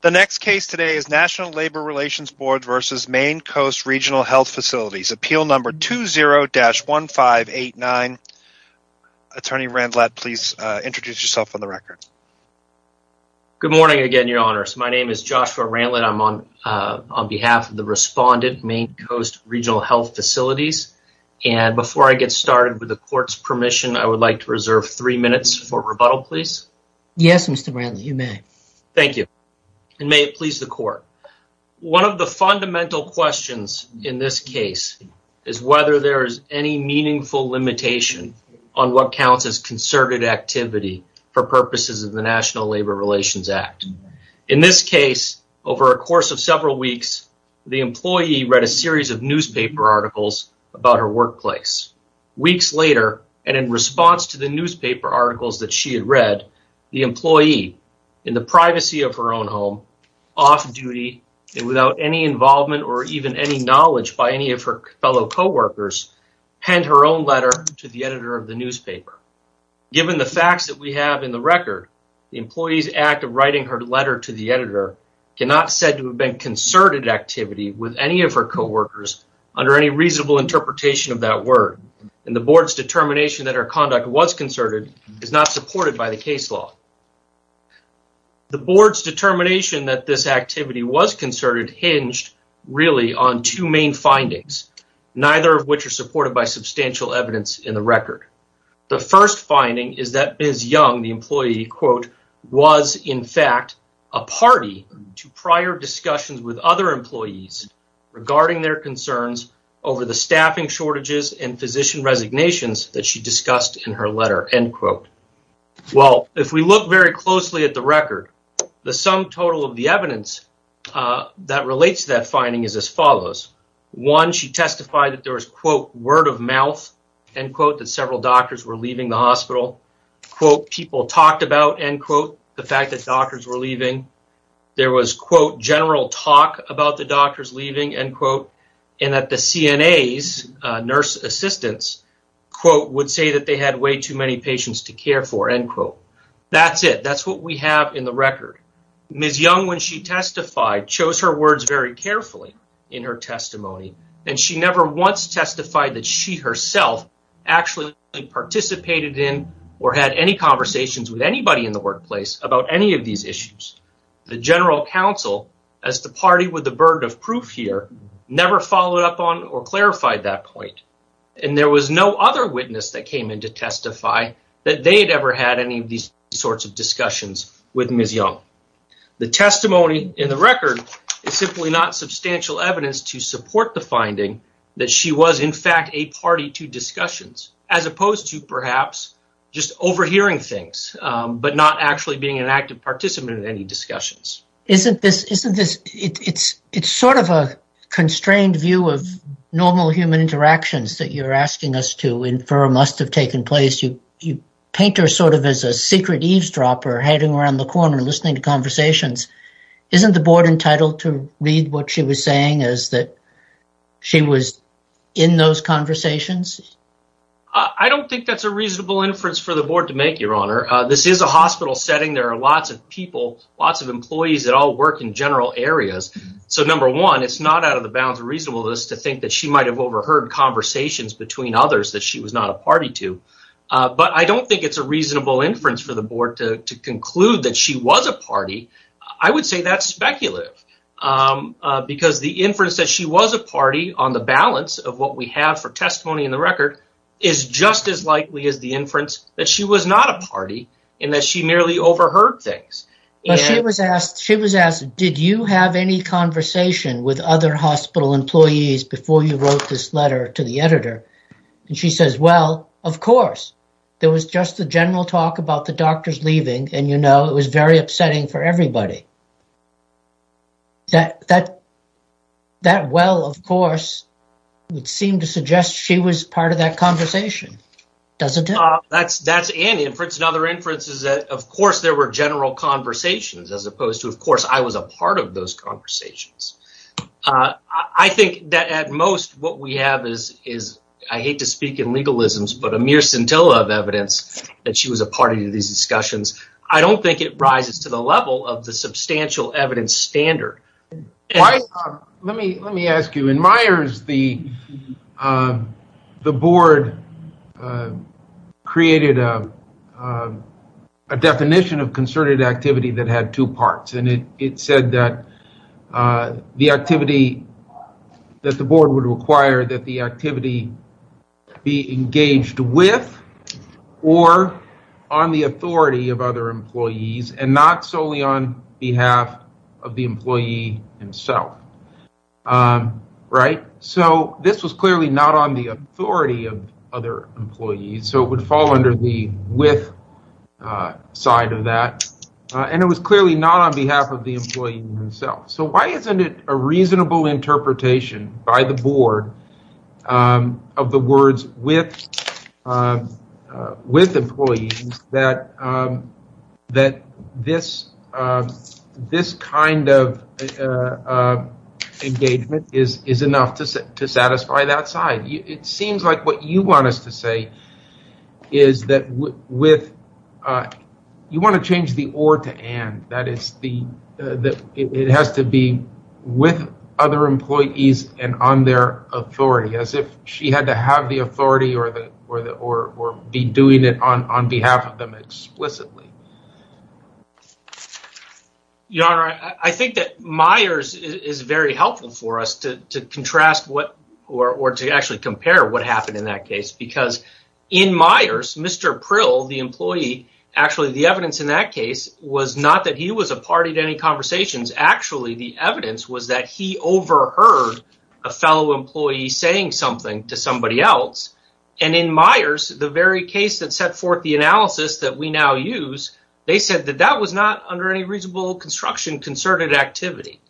The next case today is National Labor Relations Board v. Maine Coast Reg'l Health Facilities, Appeal Number 20-1589. Attorney Randlett, please introduce yourself on the record. Good morning again, Your Honors. My name is Joshua Randlett. I'm on behalf of the respondent, Maine Coast Reg'l Health Facilities, and before I get started with the court's permission, I would like to reserve three minutes for rebuttal, please. Yes, Mr. Randlett, you may. Thank you, and may it please the court. One of the fundamental questions in this case is whether there is any meaningful limitation on what counts as concerted activity for purposes of the National Labor Relations Act. In this case, over a course of several weeks, the employee read a series of newspaper articles about her workplace. Weeks later, and in response to the newspaper articles that she had read, the employee, in the privacy of her own home, off duty, and without any involvement or even any knowledge by any of her fellow co-workers, penned her own letter to the editor of the newspaper. Given the facts that we have in the record, the employee's act of writing her letter to the editor cannot be said to have been concerted activity with any of her co-workers under any reasonable interpretation of that word, and the board's determination that her conduct was concerted is not supported by the case law. The board's determination that this activity was concerted hinged really on two main findings, neither of which are supported by substantial evidence in the record. The first finding is that Ms. Young, the employee, quote, was in fact a party to prior discussions with other employees regarding their concerns over the staffing shortages and physician resignations that she discussed in her letter, end quote. Well, if we look very closely at the record, the sum total of the evidence that relates to that finding is as follows. One, she testified that there was, quote, word of mouth, end quote, that several doctors were leaving the hospital, quote, people talked about, end quote, the fact that doctors were leaving. There was, quote, general talk about the doctors leaving, end quote, and that the CNA's nurse assistants, quote, would say that they had way too many patients to care for, end quote. That's it. That's what we have in the record. Ms. Young, when she testified, chose her words very carefully in her testimony, and she never once testified that she herself actually participated in or had any conversations with anybody in the workplace about any of these issues. The general counsel, as the party with the burden of proof here, never followed up on or clarified that point, and there was no other witness that came in to testify that they had ever had any of these sorts of discussions with Ms. Young. The testimony in the record is simply not substantial evidence to support the finding that she was, in fact, a party to discussions, as opposed to, perhaps, just overhearing things, but not actually being an active participant in any discussions. It's sort of a constrained view of normal human interactions that you're asking us to infer must have taken place. You paint her sort of as a secret eavesdropper, hiding around the corner, listening to conversations. Isn't the board entitled to read what she was saying as that she was in those conversations? I don't think that's a reasonable inference for the board to make, Your Honor. This is a hospital setting. There are lots of people, lots of employees that all work in general areas. So, number one, it's not out of the bounds reasonableness to think that she might have overheard conversations between others that she was not a party to, but I don't think it's a reasonable inference for the board to conclude that she was a party. I would say that's speculative. Because the inference that she was a party on the balance of what we have for testimony in the record is just as likely as the inference that she was not a party and that she merely overheard things. She was asked, did you have any conversation with other hospital employees before you wrote this letter to the editor? She says, well, of course. There was just a general talk about the doctors leaving, and it was very upsetting for everybody. That well, of course, would seem to suggest she was part of that conversation, doesn't it? That's an inference. Another inference is that, of course, there were general conversations as opposed to, of course, I was a part of those conversations. I think that, at most, what we these discussions, I don't think it rises to the level of the substantial evidence standard. Let me ask you, in Myers, the board created a definition of concerted activity that had two parts. It said that the activity that the board would require that the activity be engaged with or on the authority of other employees and not solely on behalf of the employee himself. This was clearly not on the authority of other employees, so it would fall under the with side of that, and it was clearly not on behalf of the employee himself. Why isn't it reasonable interpretation by the board of the words with employees that this kind of engagement is enough to satisfy that side? It seems like what you want us to say is that you want to change the or to and. It has to be with other employees and on their authority as if she had to have the authority or be doing it on behalf of them explicitly. Your Honor, I think that Myers is very helpful for us to contrast or to actually compare what in Myers, Mr. Prill, the employee, the evidence in that case was not that he was a party to any conversations. Actually, the evidence was that he overheard a fellow employee saying something to somebody else. In Myers, the very case that set forth the analysis that we now use, they said that that was not under any reasonable construction concerted activity.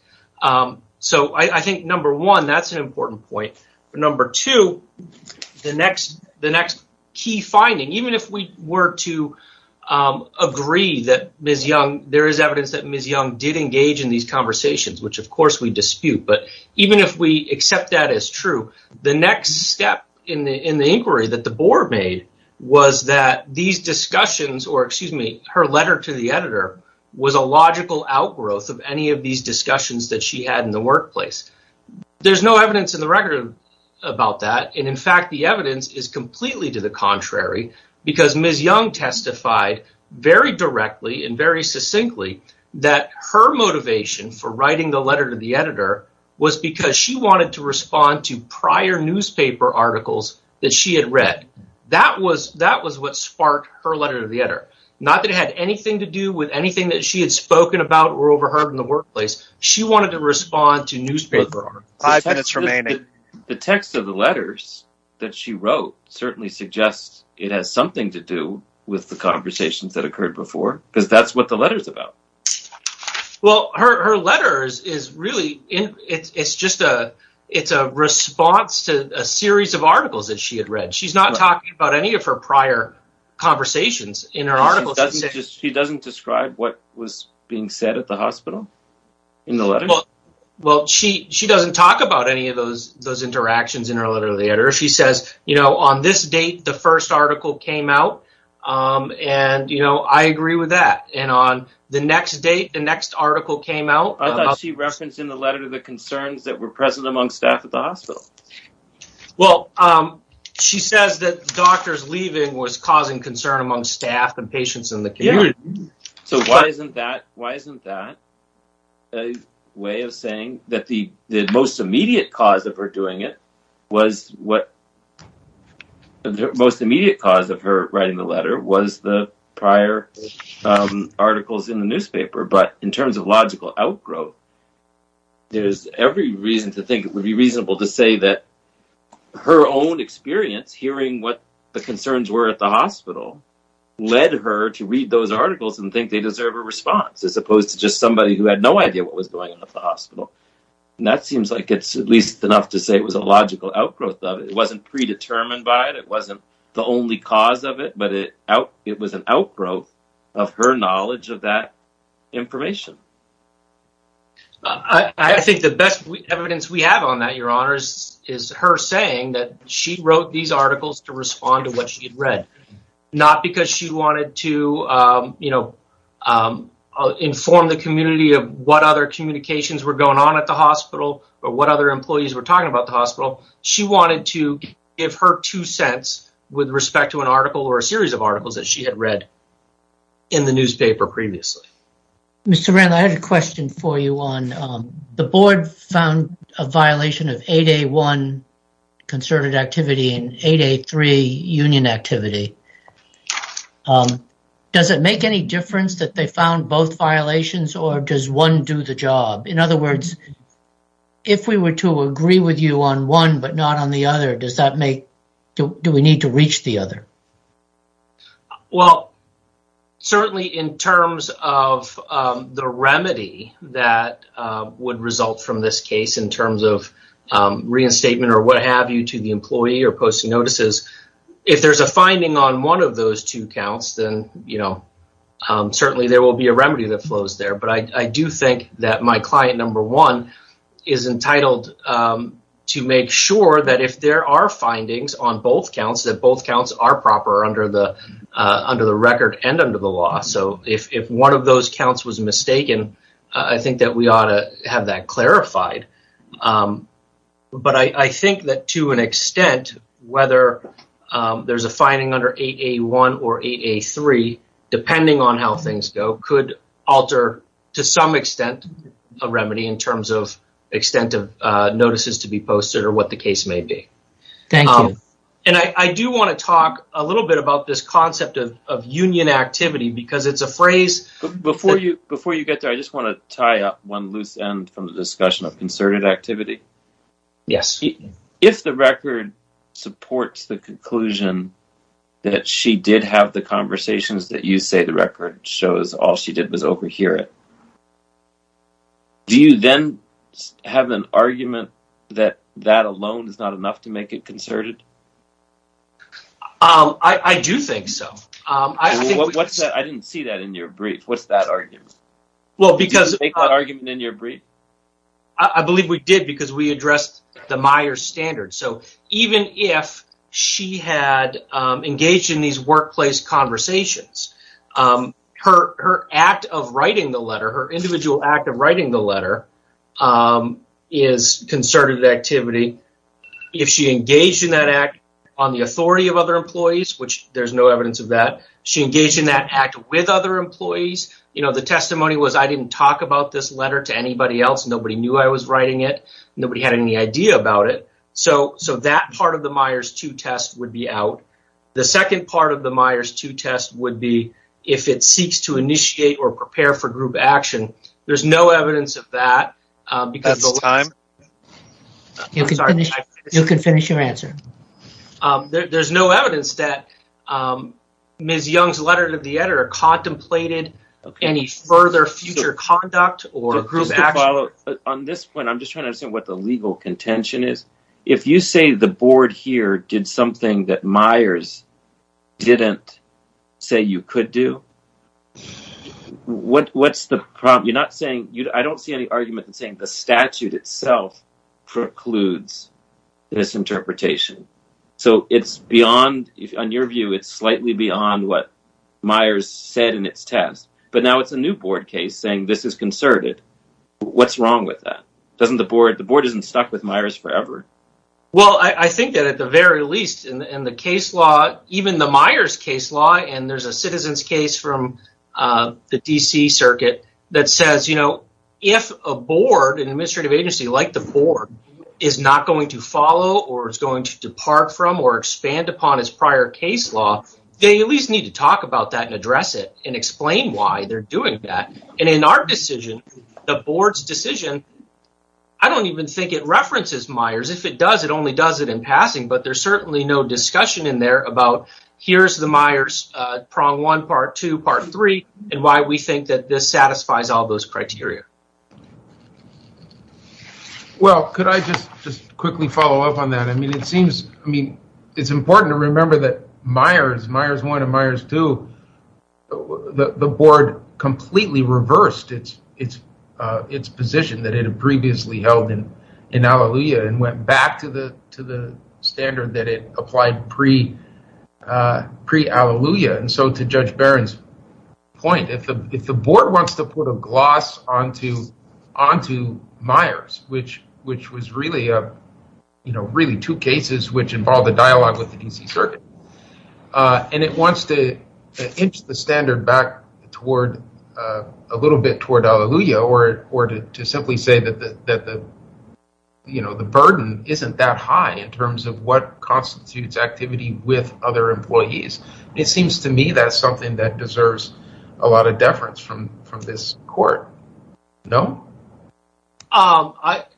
I think, number one, that's key finding. Even if we were to agree that there is evidence that Ms. Young did engage in these conversations, which of course we dispute, but even if we accept that as true, the next step in the inquiry that the board made was that her letter to the editor was a logical outgrowth of any of these discussions that she had in the workplace. There's no evidence in the record about that. In fact, the evidence is completely to the contrary because Ms. Young testified very directly and very succinctly that her motivation for writing the letter to the editor was because she wanted to respond to prior newspaper articles that she had read. That was what sparked her letter to the editor. Not that it had anything to do with anything that she had about or overheard in the workplace. She wanted to respond to newspaper articles. The text of the letters that she wrote certainly suggests it has something to do with the conversations that occurred before because that's what the letter is about. Her letter is a response to a series of articles that she had read. She's not talking about any of her prior conversations in her articles. She doesn't describe what was being said at the hospital in the letter? She doesn't talk about any of those interactions in her letter to the editor. She says, on this date, the first article came out. I agree with that. On the next date, the next article came out. I thought she referenced in the letter the concerns that were present among staff at the hospital. Well, she says that doctors leaving was causing concern among staff and patients in the care. Why isn't that a way of saying that the most immediate cause of her writing the letter was the prior articles in the newspaper? In terms of logical outgrowth, there's every reason to think it would be reasonable to say that her own experience hearing what the concerns were at the hospital led her to read those articles and think they deserve a response as opposed to just somebody who had no idea what was going on at the hospital. That seems like it's at least enough to say it was a logical outgrowth of it. It wasn't predetermined by it. It wasn't the only cause of it, but it was an outgrowth of her knowledge of that information. I think the best evidence we have on that is her saying that she wrote these articles to respond to what she had read, not because she wanted to inform the community of what other communications were going on at the hospital or what other employees were talking about the hospital. She wanted to give her two cents with respect to an article or a series of articles. Mr. Randall, I had a question for you. The board found a violation of 8A1 concerted activity and 8A3 union activity. Does it make any difference that they found both violations or does one do the job? In other words, if we were to agree with you on one but not on the other, do we need to reach the other? Certainly, in terms of the remedy that would result from this case in terms of reinstatement or what have you to the employee or posting notices, if there's a finding on one of those two counts, then certainly there will be a remedy that flows there. I do think that my client number one is entitled to make sure that if there are findings on both counts, that both counts are proper under the record and under the law. If one of those counts was mistaken, I think that we ought to have that clarified. I think that to an extent, whether there's a finding under 8A1 or 8A3, depending on how things go, could alter to some extent a remedy in terms of notices to be posted or what the case may be. I do want to talk a little bit about this concept of union activity. Before you get there, I just want to tie up one loose end from the discussion of concerted activity. If the record supports the conclusion that she did have the conversations that you say the record shows, all she did was overhear it, do you then have an argument that that alone is not enough to make it concerted? I do think so. I didn't see that in your brief. What's that argument? Well, I believe we did because we addressed the Myers standard. Even if she had engaged in these letters, if she engaged in that act on the authority of other employees, which there's no evidence of that, she engaged in that act with other employees, the testimony was I didn't talk about this letter to anybody else. Nobody knew I was writing it. Nobody had any idea about it. That part of the Myers 2 test would be out. The second part of the Myers 2 test would be if it seeks to initiate or prepare for group action. There's no evidence of that. You can finish your answer. There's no evidence that Ms. Young's letter to the editor contemplated any further future conduct or group action. On this point, I'm just trying to understand what the legal contention is. If you say the statute itself precludes this interpretation. In your view, it's slightly beyond what Myers said in its test, but now it's a new board case saying this is concerted. What's wrong with that? The board isn't stuck with Myers forever. I think that at the very least in the case law, even the Myers case law, and there's a citizens case from the DC circuit that says if a board, an administrative agency like the board, is not going to follow or is going to depart from or expand upon its prior case law, they at least need to talk about that and address it and explain why they're doing that. In our decision, the does, it only does it in passing, but there's certainly no discussion in there about here's the Myers prong one, part two, part three, and why we think that this satisfies all those criteria. Could I just quickly follow up on that? It's important to remember that Myers, Myers one and Myers two, the board completely reversed its position that it had previously held in Alleluia and went back to the standard that it applied pre-Alleluia, and so to Judge Barron's point, if the board wants to put a gloss onto Myers, which was really two cases which involved a dialogue with the DC circuit, and it wants to inch the standard back a little bit toward Alleluia or to simply say that the burden isn't that high in terms of what constitutes activity with other employees, it seems to me that's something that deserves a lot of deference from this court. No?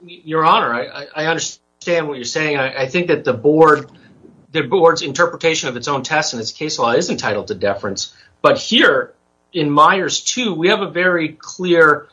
Your Honor, I understand what you're saying. I think that the board's interpretation of its own test and its case law is entitled to deference, but here in Myers two, we have a very clear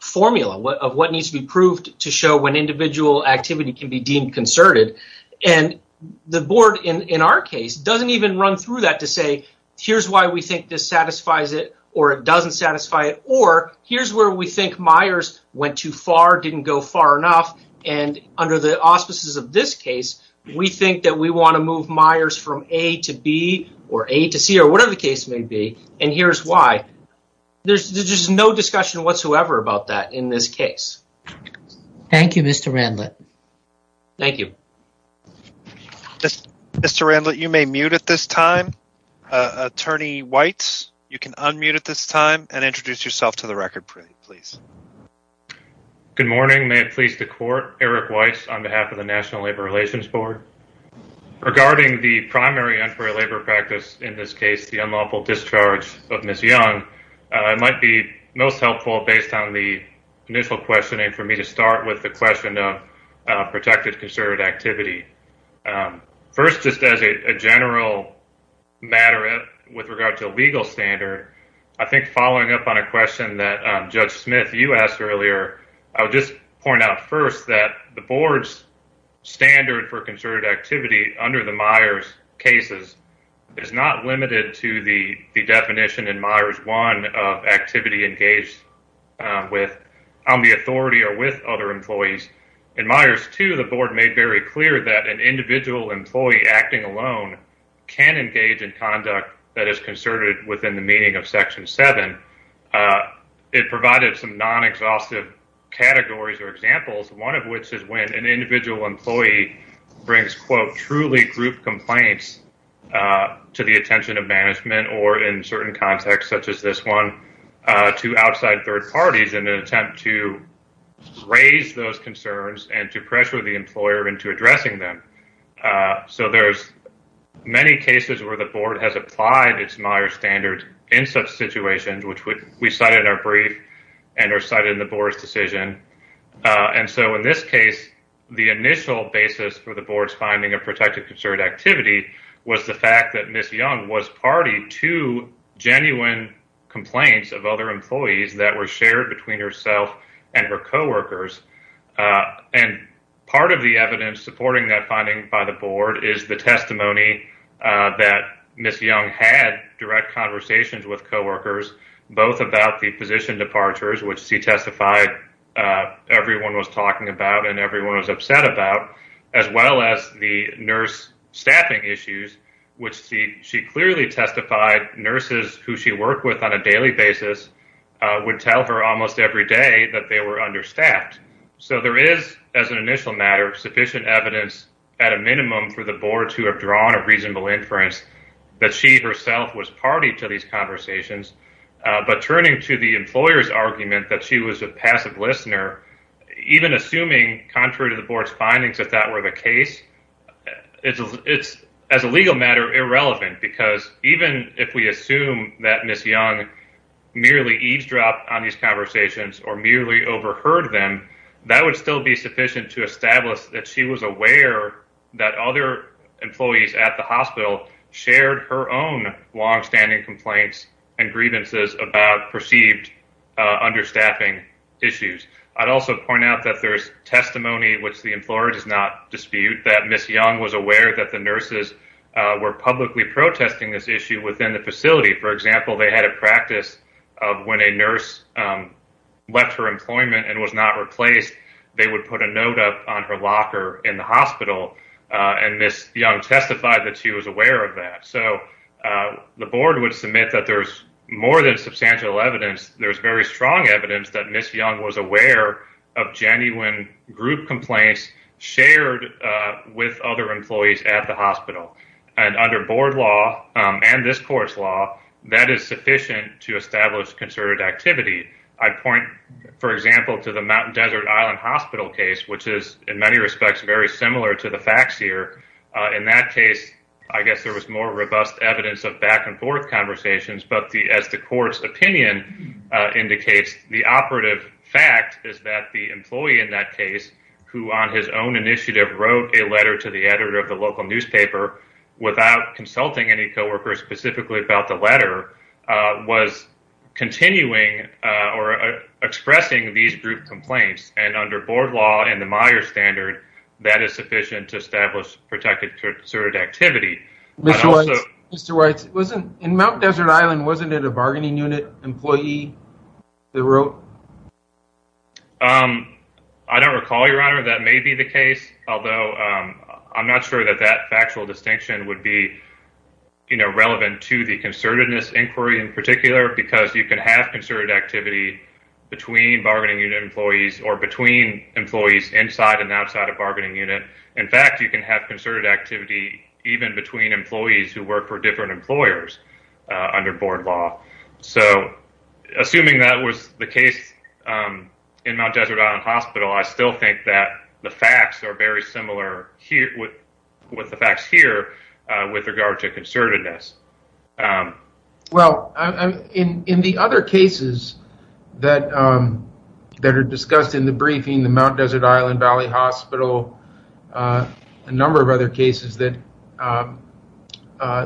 formula of what needs to be proved to show when individual activity can be deemed concerted, and the board, in our case, doesn't even run through that to say, here's why we think this satisfies it or it doesn't satisfy it, or here's where we think Myers went too far, didn't go far enough, and under the auspices of this case, we think that we want to move Myers from A to B or A to C or whatever the case may be, and here's why. There's just no discussion whatsoever about that in this case. Thank you, Mr. Randlett. Thank you. Mr. Randlett, you may mute at this time. Attorney Weitz, you can unmute at this time and introduce yourself to the record, please. Good morning. May it please the court, Eric Weitz on behalf of the National Labor Relations Board. Regarding the primary unfair labor practice, in this case, the unlawful discharge of Ms. Young, it might be most helpful, based on the initial questioning, for me to start with the question of protected concerted activity. First, just as a general matter with regard to a legal standard, I think following up on a question that Judge Smith, you asked earlier, I would just point out that the board's standard for concerted activity under the Myers cases is not limited to the definition in Myers 1 of activity engaged on the authority or with other employees. In Myers 2, the board made very clear that an individual employee acting alone can engage in conduct that is concerted within the meaning of Section 7. It provided some non-exhaustive categories or rules, one of which is when an individual employee brings, quote, truly group complaints to the attention of management or in certain contexts, such as this one, to outside third parties in an attempt to raise those concerns and to pressure the employer into addressing them. So, there's many cases where the board has applied its Myers standard in such situations, which we cite in our brief and are cited in the board's decision. And so, in this case, the initial basis for the board's finding of protected concerted activity was the fact that Ms. Young was party to genuine complaints of other employees that were shared between herself and her coworkers. And part of the evidence supporting that finding by the board is the both about the position departures, which she testified everyone was talking about and everyone was upset about, as well as the nurse staffing issues, which she clearly testified nurses who she worked with on a daily basis would tell her almost every day that they were understaffed. So, there is, as an initial matter, sufficient evidence at a minimum for the board to have reasonable inference that she herself was party to these conversations. But turning to the employer's argument that she was a passive listener, even assuming contrary to the board's findings that that were the case, it's as a legal matter irrelevant because even if we assume that Ms. Young merely eavesdropped on these conversations or merely overheard them, that would still be sufficient to establish that she was aware that other employees at the hospital shared her own long-standing complaints and grievances about perceived understaffing issues. I'd also point out that there's testimony, which the employer does not dispute, that Ms. Young was aware that the nurses were publicly protesting this issue within the facility. For example, they had a practice of when a nurse left her employment and was not replaced, they would put a note up on her locker in the hospital, and Ms. Young testified that she was aware of that. So, the board would submit that there's more than substantial evidence. There's very strong evidence that Ms. Young was aware of genuine group complaints shared with other employees at the hospital, and under board law and this court's law, that is sufficient to establish concerted activity. I'd point, for example, to the Mountain Desert Island Hospital case, which is, in many respects, very similar to the facts here. In that case, I guess there was more robust evidence of back-and-forth conversations, but as the court's opinion indicates, the operative fact is that the employee in that case, who on his own initiative wrote a letter to the editor of the local newspaper without consulting any co-workers specifically about the letter, was continuing or expressing these group complaints, and under board law and the Meijer standard, that is sufficient to establish protected concerted activity. Mr. Weitz, in Mountain Desert Island, wasn't it a bargaining unit employee that wrote? I don't recall, Your Honor, that may be the case, although I'm not sure that that factual distinction would be relevant to the concertedness inquiry in particular, because you can have concerted activity between bargaining unit employees or between employees inside and outside a bargaining unit. In fact, you can have concerted activity even between employees who work for different employers under board law. So, assuming that was the case in Mountain Desert Island Hospital, I still think that the facts are very similar with the facts here with regard to concertedness. Well, in the other cases that are discussed in the briefing, the Mountain Desert Island Valley Hospital, a number of other cases that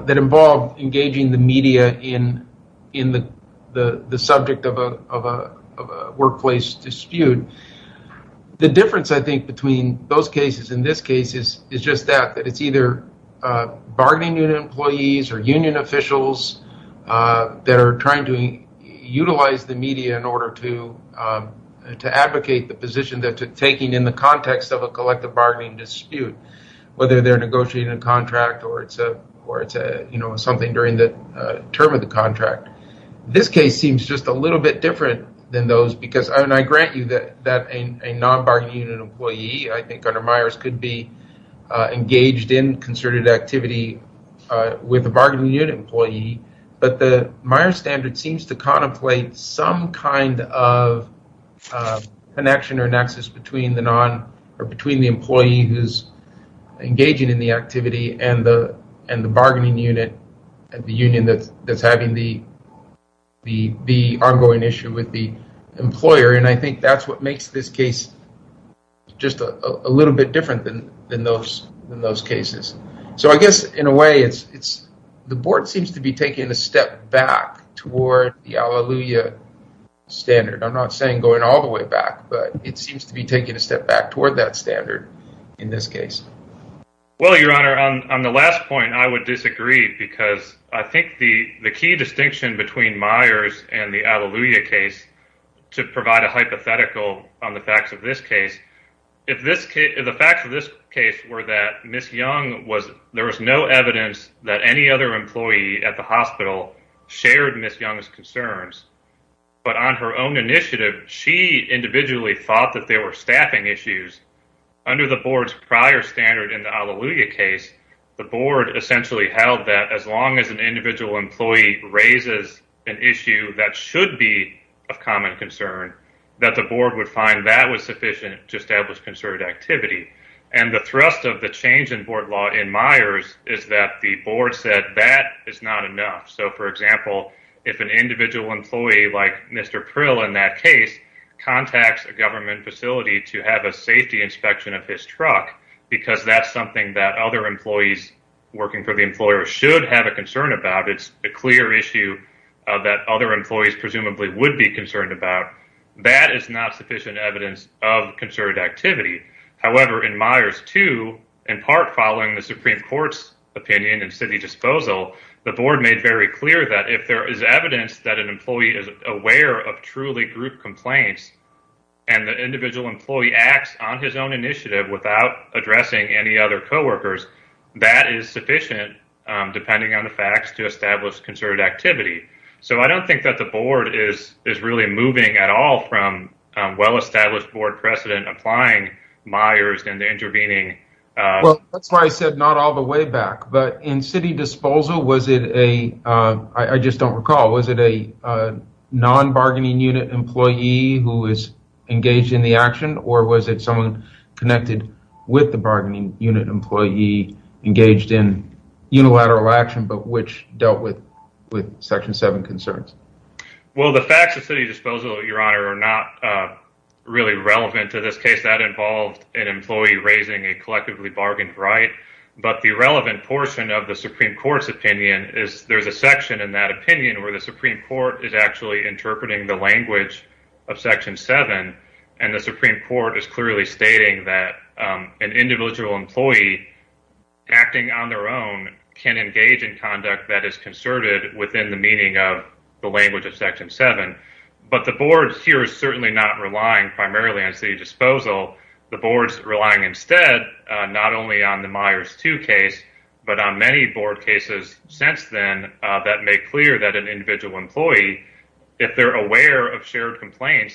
involve engaging the media in the subject of a workplace dispute. The difference, I think, between those cases and this case is just that, that it's either bargaining unit employees or union officials that are trying to utilize the media in the context of a collective bargaining dispute, whether they're negotiating a contract or it's a something during the term of the contract. This case seems just a little bit different than those because, and I grant you that a non-bargaining unit employee, I think, under Myers could be engaged in concerted activity with a bargaining unit employee, but the Myers standard seems to contemplate some kind of connection or nexus between the employee who's engaging in the activity and the bargaining unit at the union that's having the ongoing issue with the employer, and I think that's what makes this case just a little bit different than those cases. So, I guess, in a way, the board seems to be taking a step back toward the Alleluia standard. I'm not saying going all the way back, but it seems to be taking a step back toward that standard in this case. Well, your honor, on the last point, I would disagree because I think the key distinction between Myers and the Alleluia case to provide a hypothetical on the facts of this case, if the facts of this case were that there was no evidence that any other employee at the hospital shared Ms. Young's concerns, but on her own initiative, she individually thought that there were staffing issues. Under the board's prior standard in the Alleluia case, the board essentially held that as long as an individual employee raises an issue that should be of common concern, that the board would find that was sufficient to establish concerted activity. And the thrust of the change in board law in Myers is that the board said that is not enough. So, for example, if an individual employee like Mr. Prill in that case contacts a government facility to have a safety inspection of his truck because that's something that other employees working for the employer should have a concern about, it's a clear issue that other employees presumably would be concerned about, that is not sufficient evidence of concerted activity. However, in Myers 2, in part following the Supreme Court's opinion and city disposal, the board made very clear that if there is evidence that an employee is aware of truly group complaints and the individual employee acts on his own initiative without addressing any other co-workers, that is sufficient, depending on the facts, to establish concerted activity. So, I don't think that the board is really moving at all from well-established board precedent applying Myers and intervening. Well, that's why I said not all the way back, but in city disposal, was it a, I just don't recall, was it a non-bargaining unit employee who was engaged in the action or was it someone connected with the bargaining unit employee engaged in with Section 7 concerns? Well, the facts of city disposal, Your Honor, are not really relevant to this case. That involved an employee raising a collectively bargained right, but the relevant portion of the Supreme Court's opinion is there's a section in that opinion where the Supreme Court is actually interpreting the language of Section 7 and the Supreme Court is clearly stating that an individual employee acting on their own can engage in conduct that is concerted within the meaning of the language of Section 7, but the board here is certainly not relying primarily on city disposal. The board's relying instead not only on the Myers 2 case, but on many board cases since then that make clear that an individual employee, if they're aware of shared complaints,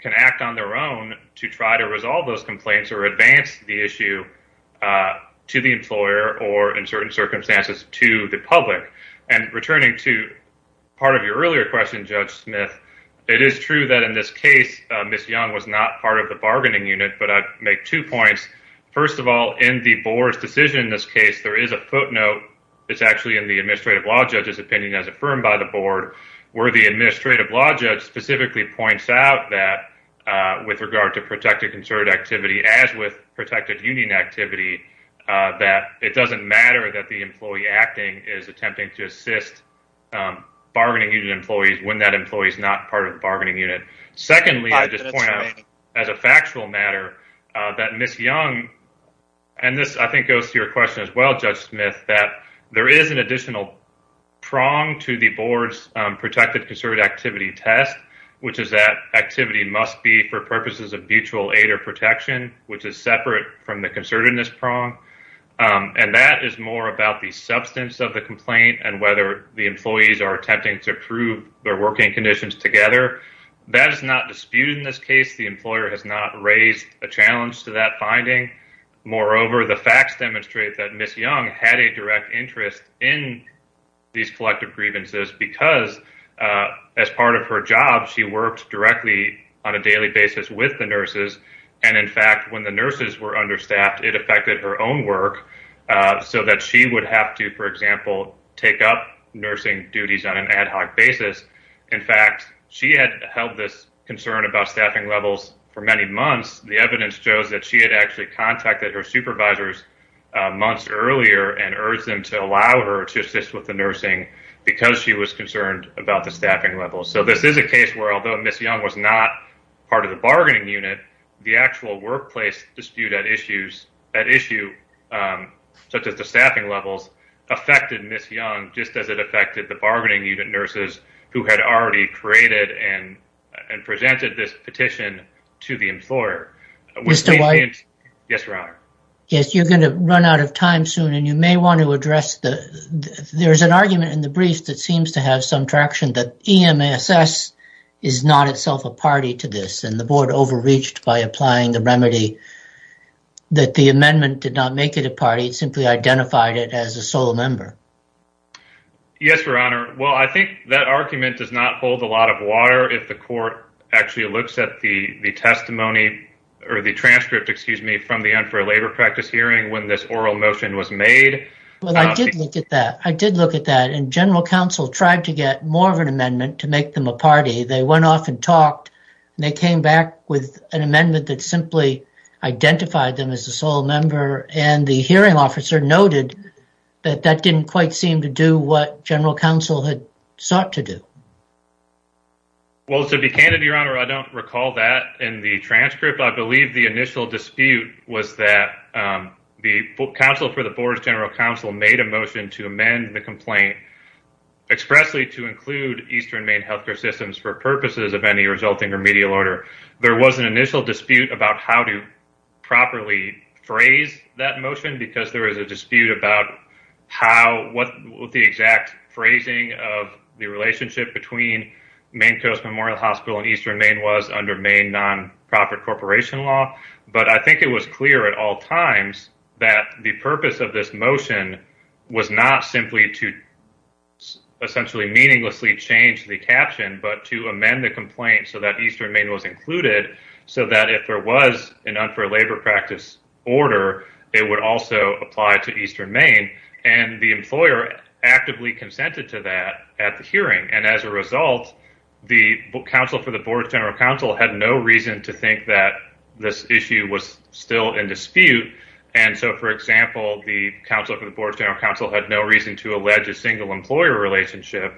can act on their own to try to resolve those complaints or advance the issue to the employer or, in certain circumstances, to the public. And returning to part of your earlier question, Judge Smith, it is true that in this case, Ms. Young was not part of the bargaining unit, but I'd make two points. First of all, in the board's decision in this case, there is a footnote, it's actually in the administrative law judge's opinion as affirmed by the board, where the administrative law judge specifically points out that with regard to protected concerted activity, as with protected union activity, that it doesn't matter that the employee acting is attempting to assist bargaining unit employees when that employee is not part of the bargaining unit. Secondly, I just point out as a factual matter that Ms. Young, and this I think goes to your question as well, Judge Smith, that there is an additional prong to the board's protected concerted activity test, which is that activity must be for purposes of mutual aid or protection, which is separate from the concertedness prong. And that is more about the substance of the complaint and whether the employees are attempting to prove their working conditions together. That is not disputed in this case. The employer has not raised a challenge to that finding. Moreover, the facts demonstrate that Ms. Young had a direct interest in these collective grievances because as part of her job, she worked directly on a daily basis with the nurses. And in fact, when the nurses were understaffed, it affected her own work so that she would have to, for example, take up nursing duties on an ad hoc basis. In fact, she had held this concern about staffing levels for many months. The evidence shows that she had actually contacted her supervisors months earlier and urged them to allow her to assist with the nursing because she was concerned about the staffing levels. So this is a case where although Ms. Young was not part of the bargaining unit, the actual workplace dispute at issue such as the staffing levels affected Ms. Young just as it affected the bargaining unit nurses who had already created and presented this petition to the employer. Mr. White? Yes, Your Honor. Yes, you're going to run out of time soon and you may want to address the there's an argument in the brief that seems to have some traction that EMSS is not itself a party to this and the board overreached by applying the remedy that the amendment did not make it a party. It simply identified it as a sole member. Yes, Your Honor. Well, I think that argument does not hold a lot of water if the court actually looks at the testimony or the transcript, excuse me, from the unfair labor practice hearing when this oral motion was made. Well, I did look at that. I did look at that and general counsel tried to get more of an amendment to make them a party. They went off and talked and they came back with an amendment that simply identified them as a sole member and the hearing officer noted that that didn't quite seem to do what general counsel had sought to do. Well, to be candid, Your Honor, I don't recall that in the transcript. I believe the initial dispute was that the counsel for the board's general counsel made a motion to amend the complaint expressly to include Eastern Maine health care systems for purposes of any resulting remedial order. There was an initial dispute about how to properly phrase that motion because there was a dispute about how, what the exact phrasing of the relationship between Maine Coast Memorial Hospital and Eastern Maine was under Maine non-profit corporation law, but I think it was clear at all times that the purpose of this motion was not simply to essentially meaninglessly change the caption, but to amend the complaint so that Eastern Maine was included, so that if there was an unfair labor practice order, it would also apply to Eastern Maine and the employer actively consented to that at the hearing. And as a result, the counsel for the board general counsel had no reason to think that this issue was still in dispute. And so, for example, the counsel for the board general counsel had no reason to allege a single employer relationship,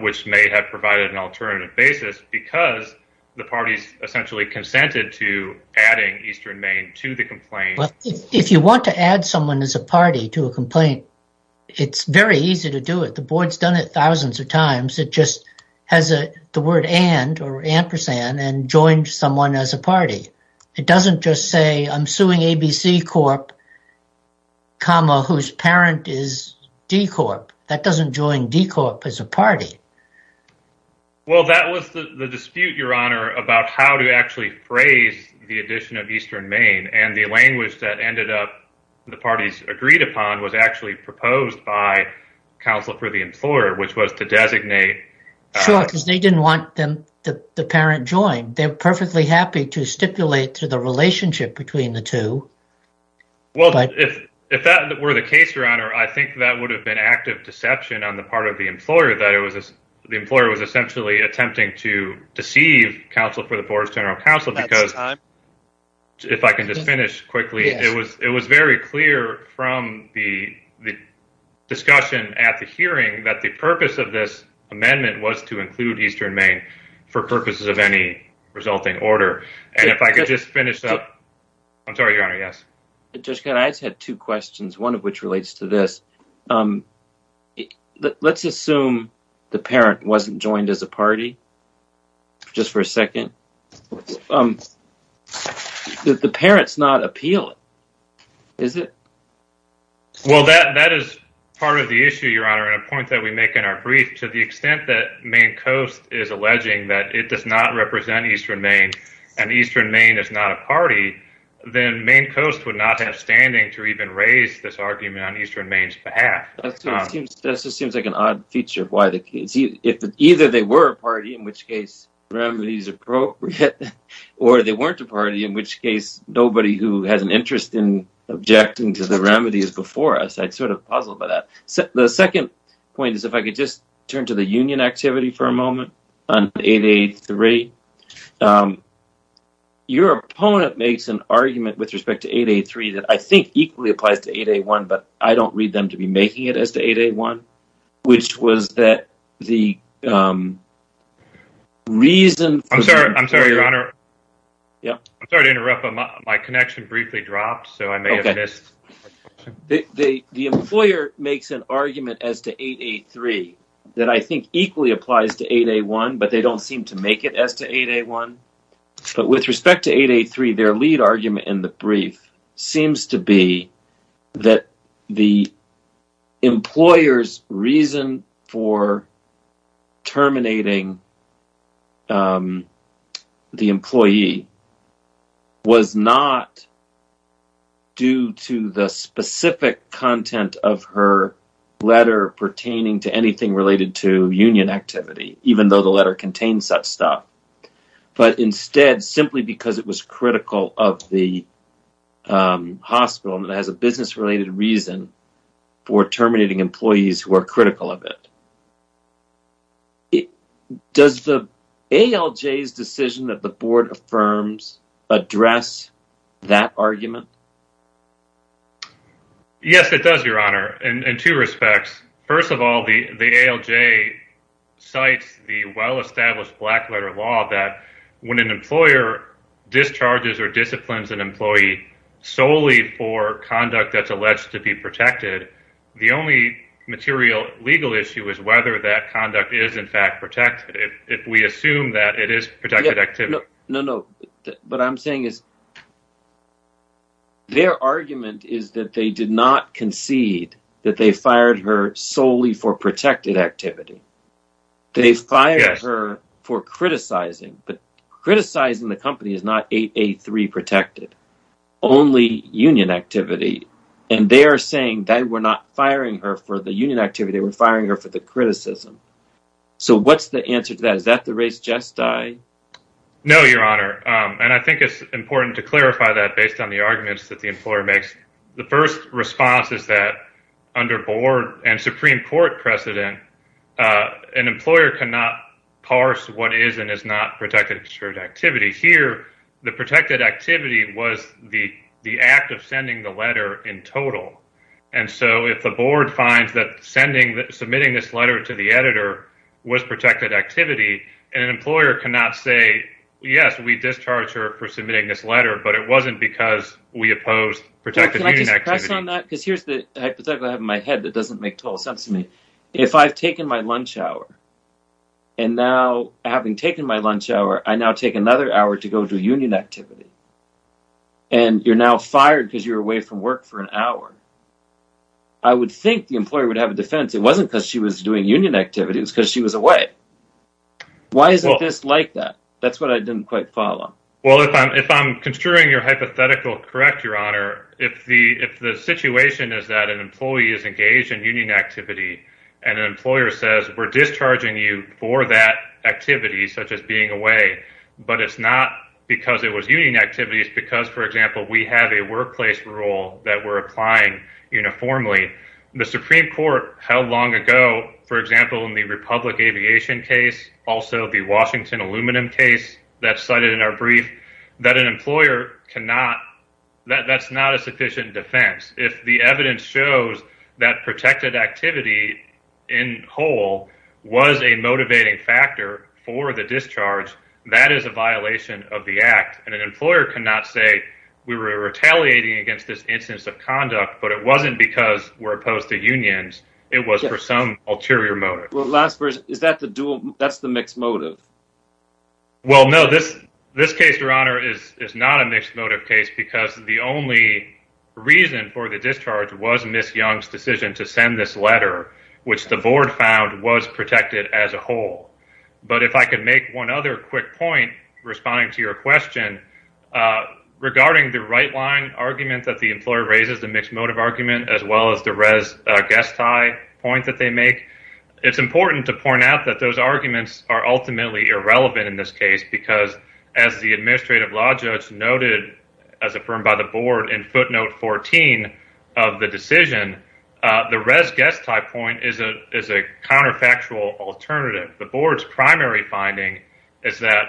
which may have provided an alternative basis because the parties essentially consented to adding Eastern Maine to the complaint. If you want to add someone as a party to a complaint, it's very easy to do it. The board's done it thousands of times. It just has the word and or ampersand and joined someone as a party. It doesn't just say I'm suing ABC Corp, comma, whose parent is D Corp. That doesn't join D Corp as a party. Well, that was the dispute, your honor, about how to actually phrase the addition of Eastern Maine and the language that ended up the parties agreed upon was actually proposed by counsel for the employer, which was to designate. Sure, because they didn't want the parent joined. They're if that were the case, your honor, I think that would have been active deception on the part of the employer that it was the employer was essentially attempting to deceive counsel for the board's general counsel. Because if I can just finish quickly, it was it was very clear from the discussion at the hearing that the purpose of this amendment was to include Eastern Maine for purposes of any resulting order. And if I could just finish up. I'm sorry, your honor. Yes. Just got I just had two questions, one of which relates to this. Let's assume the parent wasn't joined as a party. Just for a second. The parents not appeal. Is it? Well, that that is part of the issue, your honor, and a point that we make in our brief to the extent that main coast is alleging that it does not represent Eastern Maine, and Eastern Maine is not a party, then main coast would not have standing to even raise this argument on Eastern Maine's behalf. That just seems like an odd feature of why the case if either they were a party, in which case remedies appropriate, or they weren't a party, in which case nobody who has an interest in objecting to the remedies before us, I'd sort of puzzled by that. So the second point is, if I could just turn to the Your opponent makes an argument with respect to 883 that I think equally applies to 8A1, but I don't read them to be making it as to 8A1, which was that the reason. I'm sorry. I'm sorry, your honor. Yeah, I'm sorry to interrupt. My connection briefly dropped, so I may have missed. The employer makes an argument as to 883 that I think equally applies to 8A1, but they don't seem to make it as to 8A1. But with respect to 883, their lead argument in the brief seems to be that the employer's reason for terminating the employee was not due to the specific content of her letter pertaining to anything related to union activity, even though the letter contained such stuff, but instead simply because it was critical of the hospital and it has a business-related reason for terminating employees who are critical of it. Does the ALJ's decision that the board affirms address that argument? Yes, it does, your honor, in two respects. First of all, the ALJ cites the well-established black-letter law that when an employer discharges or disciplines an employee solely for conduct that's alleged to be protected, the only material legal issue is whether that conduct is in fact protected. If we assume that it is protected activity. No, no, what I'm saying is that their argument is that they did not concede that they fired her solely for protected activity. They fired her for criticizing, but criticizing the company is not 8A3 protected, only union activity. And they are saying that we're not firing her for the union activity, we're firing her for the criticism. So what's the answer to that? Is that the race jest I know, your honor. And I think it's important to clarify that based on the arguments that the employer makes. The first response is that under board and Supreme Court precedent, an employer cannot parse what is and is not protected activity. Here, the protected activity was the act of sending the letter in total. And so if the board finds that submitting this letter to the editor was protected activity, an employer cannot say, yes, we discharge her for submitting this letter, but it wasn't because we opposed protected union activity. Can I just press on that? Because here's the hypothetical I have in my head that doesn't make total sense to me. If I've taken my lunch hour, and now having taken my lunch hour, I now take another hour to go to union activity. And you're now fired because you're away from work for an hour. I would think the employer would have it wasn't because she was doing union activities because she was away. Why isn't this like that? That's what I didn't quite follow. Well, if I'm if I'm construing your hypothetical, correct, your honor, if the if the situation is that an employee is engaged in union activity, and an employer says we're discharging you for that activity, such as being away, but it's not because it was union activities. Because for example, we have a workplace rule that we're applying uniformly. The Supreme Court held long ago, for example, in the Republic Aviation case, also the Washington Aluminum case that's cited in our brief, that an employer cannot, that's not a sufficient defense. If the evidence shows that protected activity in whole was a motivating factor for the discharge, that is a violation of the act. And an employer cannot say we were but it wasn't because we're opposed to unions. It was for some ulterior motive. Well, last verse, is that the dual? That's the mixed motive? Well, no, this, this case, your honor, is not a mixed motive case, because the only reason for the discharge was Miss Young's decision to send this letter, which the board found was protected as a whole. But if I could make one other quick point, responding to your question, regarding the right line argument that the employer raises, the mixed motive argument, as well as the res guest tie point that they make, it's important to point out that those arguments are ultimately irrelevant in this case, because as the administrative law judge noted, as affirmed by the board in footnote 14 of the decision, the res guest tie point is a counterfactual alternative. The board's primary finding is that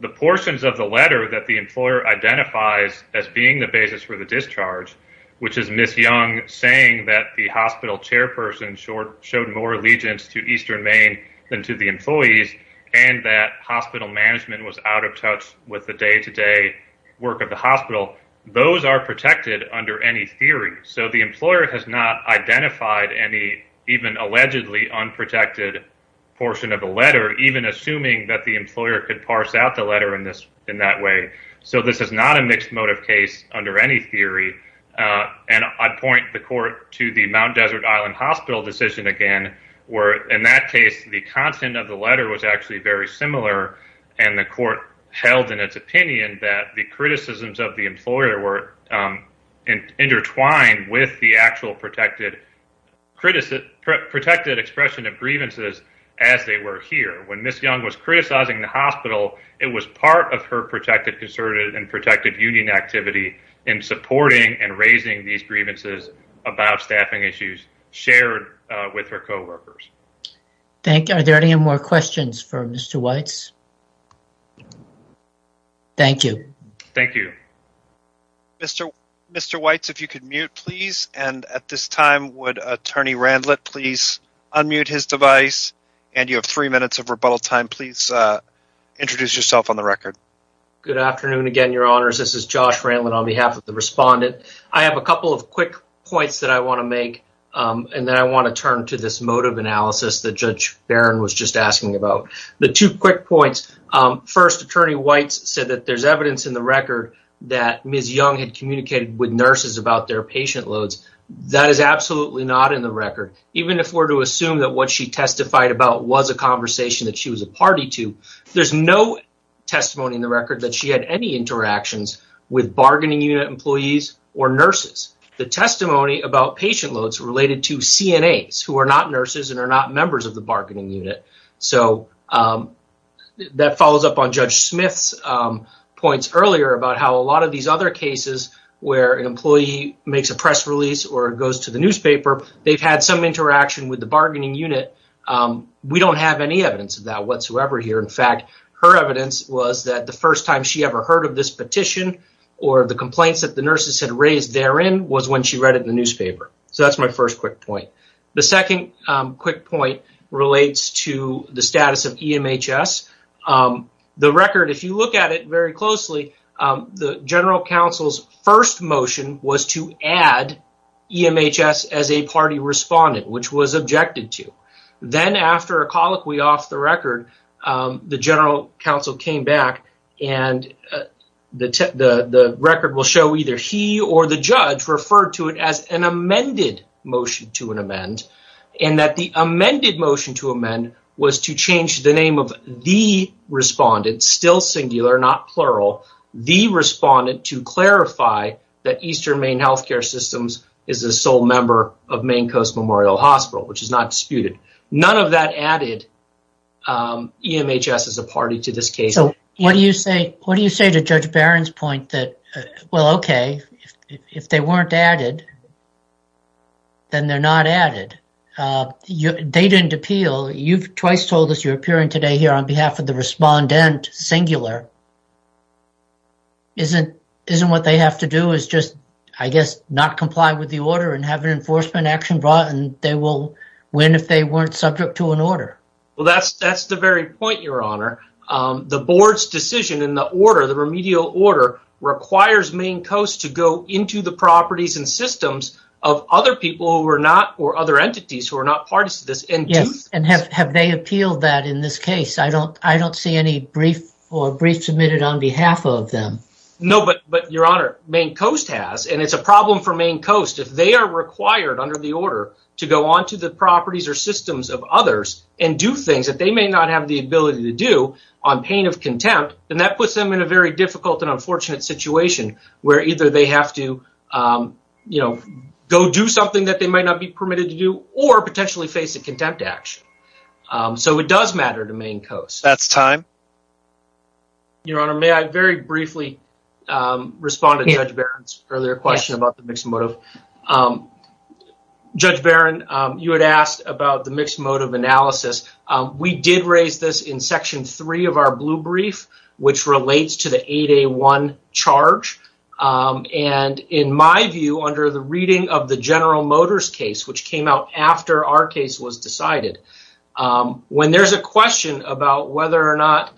the portions of the letter that the employer identifies as being the basis for the discharge, which is Miss Young saying that the hospital chairperson showed more allegiance to Eastern Maine than to the employees, and that hospital management was out of touch with the day to day work of the hospital, those are protected under any theory. So the employer has not identified any even allegedly unprotected portion of the letter, even assuming that the employer could parse out the letter in that way. So this is not a mixed motive case under any theory. And I'd point the court to the Mount Desert Island Hospital decision again, where in that case, the content of the letter was actually very similar. And the court held in its opinion that the criticisms of the employer were intertwined with the actual protected expression of grievances as they were here. When Miss Young was criticizing the hospital, it was part of her protected conservative and protected union activity in supporting and raising these grievances about staffing issues shared with her co-workers. Thank you. Are there any more questions for Mr. Weitz? Thank you. Thank you. Mr. Weitz, if you could mute, please. And at this time, would Attorney Randlett please unmute his device? And you have three minutes of rebuttal time, please introduce yourself on the record. Good afternoon, again, your honors. This is Josh Randlett on behalf of the respondent. I have a couple of quick points that I want to make. And then I want to turn to this motive analysis that Judge Barron was just asking about. The two quick points. First, Attorney Weitz said that there's evidence in the record that Miss Young had communicated with nurses about their patient loads. That is absolutely not in the record. Even if we're to assume that what she testified about was a conversation that she was a party to, there's no testimony in the record that she had any interactions with bargaining unit employees or nurses. The testimony about patient loads related to CNAs, who are not nurses and are not members of the bargaining unit. So that follows up on Judge Smith's points earlier about how a lot of these other cases where an employee makes a press release or goes to the newspaper, they've had some interaction with the bargaining unit. We don't have any evidence of that whatsoever here. In fact, her evidence was that the first time she ever heard of this petition or the complaints that the nurses had raised therein was when she read it in the newspaper. So that's my first quick point. The second quick point relates to the status of EMHS. The record, if you look at very closely, the General Counsel's first motion was to add EMHS as a party respondent, which was objected to. Then after a colloquy off the record, the General Counsel came back and the record will show either he or the judge referred to it as an amended motion to an amend, and that the amended motion to amend was to change the name of the respondent, still singular, not plural, the respondent to clarify that Eastern Maine Health Care Systems is a sole member of Maine Coast Memorial Hospital, which is not disputed. None of that added EMHS as a party to this case. So what do you say to Judge Barron's point that, well, okay, if they weren't added, then they're not added. They didn't appeal. You've twice told us you're appearing today here on behalf of the respondent singular. Isn't what they have to do is just, I guess, not comply with the order and have an enforcement action brought and they will win if they weren't subject to an order? Well, that's the very point, Your Honor. The board's decision in the order, requires Maine Coast to go into the properties and systems of other people who are not, or other entities who are not parties to this. And have they appealed that in this case? I don't see any brief or brief submitted on behalf of them. No, but Your Honor, Maine Coast has, and it's a problem for Maine Coast. If they are required under the order to go onto the properties or systems of others and do things that they may not have the ability to do on pain of contempt, then that puts them in a very difficult and unfortunate situation where either they have to go do something that they might not be permitted to do or potentially face a contempt action. So it does matter to Maine Coast. That's time. Your Honor, may I very briefly respond to Judge Barron's earlier question about the mixed motive? Judge Barron, you had asked about the mixed motive analysis. We did raise this in section three of our blue brief, which relates to the 8A1 charge. And in my view, under the reading of the General Motors case, which came out after our case was decided, when there's a question about whether or not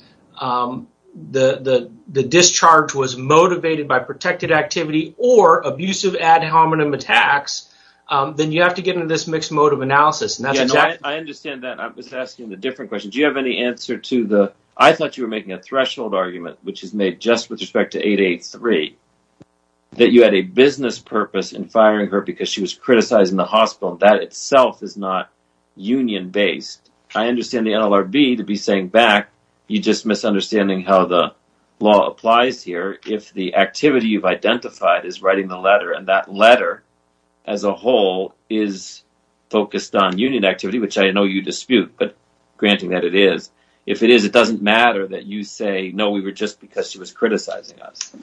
the discharge was motivated by protected activity or abusive ad hominem attacks, then you have to get into this mixed motive analysis. I understand that. I'm just asking a different question. Do you have any answer to the, I thought you were making a threshold argument, which is made just with respect to 8A3, that you had a business purpose in firing her because she was criticizing the hospital. That itself is not union based. I understand the NLRB to be saying back, you just misunderstanding how the law applies here. If the activity you've identified is writing the letter and that letter as a whole is focused on union activity, which I know you dispute, but granting that it is, if it is, it doesn't matter that you say, no, we were just because she was criticizing us.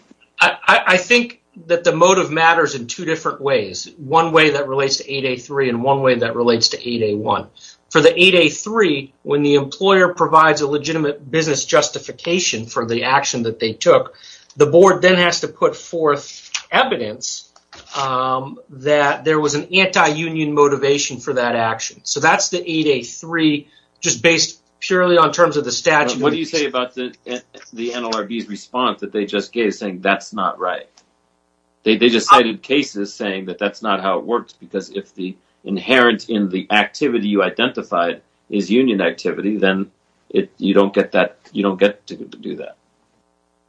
I think that the motive matters in two different ways. One way that relates to 8A3 and one way that relates to 8A1. For the 8A3, when the employer provides a legitimate business justification for the action that they took, the board then has to evidence that there was an anti-union motivation for that action. That's the 8A3 just based purely on terms of the statute. What do you say about the NLRB's response that they just gave saying that's not right? They just cited cases saying that that's not how it works because if the inherent in the activity you identified is union activity, then you don't get to do that.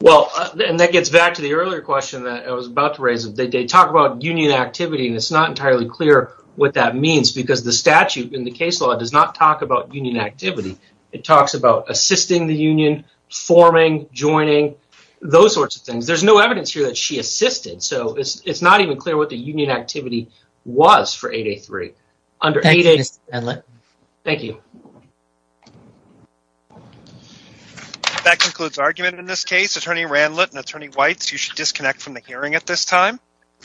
Well, and that gets back to the earlier question that I was about to raise. They talk about union activity and it's not entirely clear what that means because the statute in the case law does not talk about union activity. It talks about assisting the union, forming, joining, those sorts of things. There's no evidence here that she assisted, so it's not even clear what the Randlett and Whites. You should disconnect from the hearing at this time.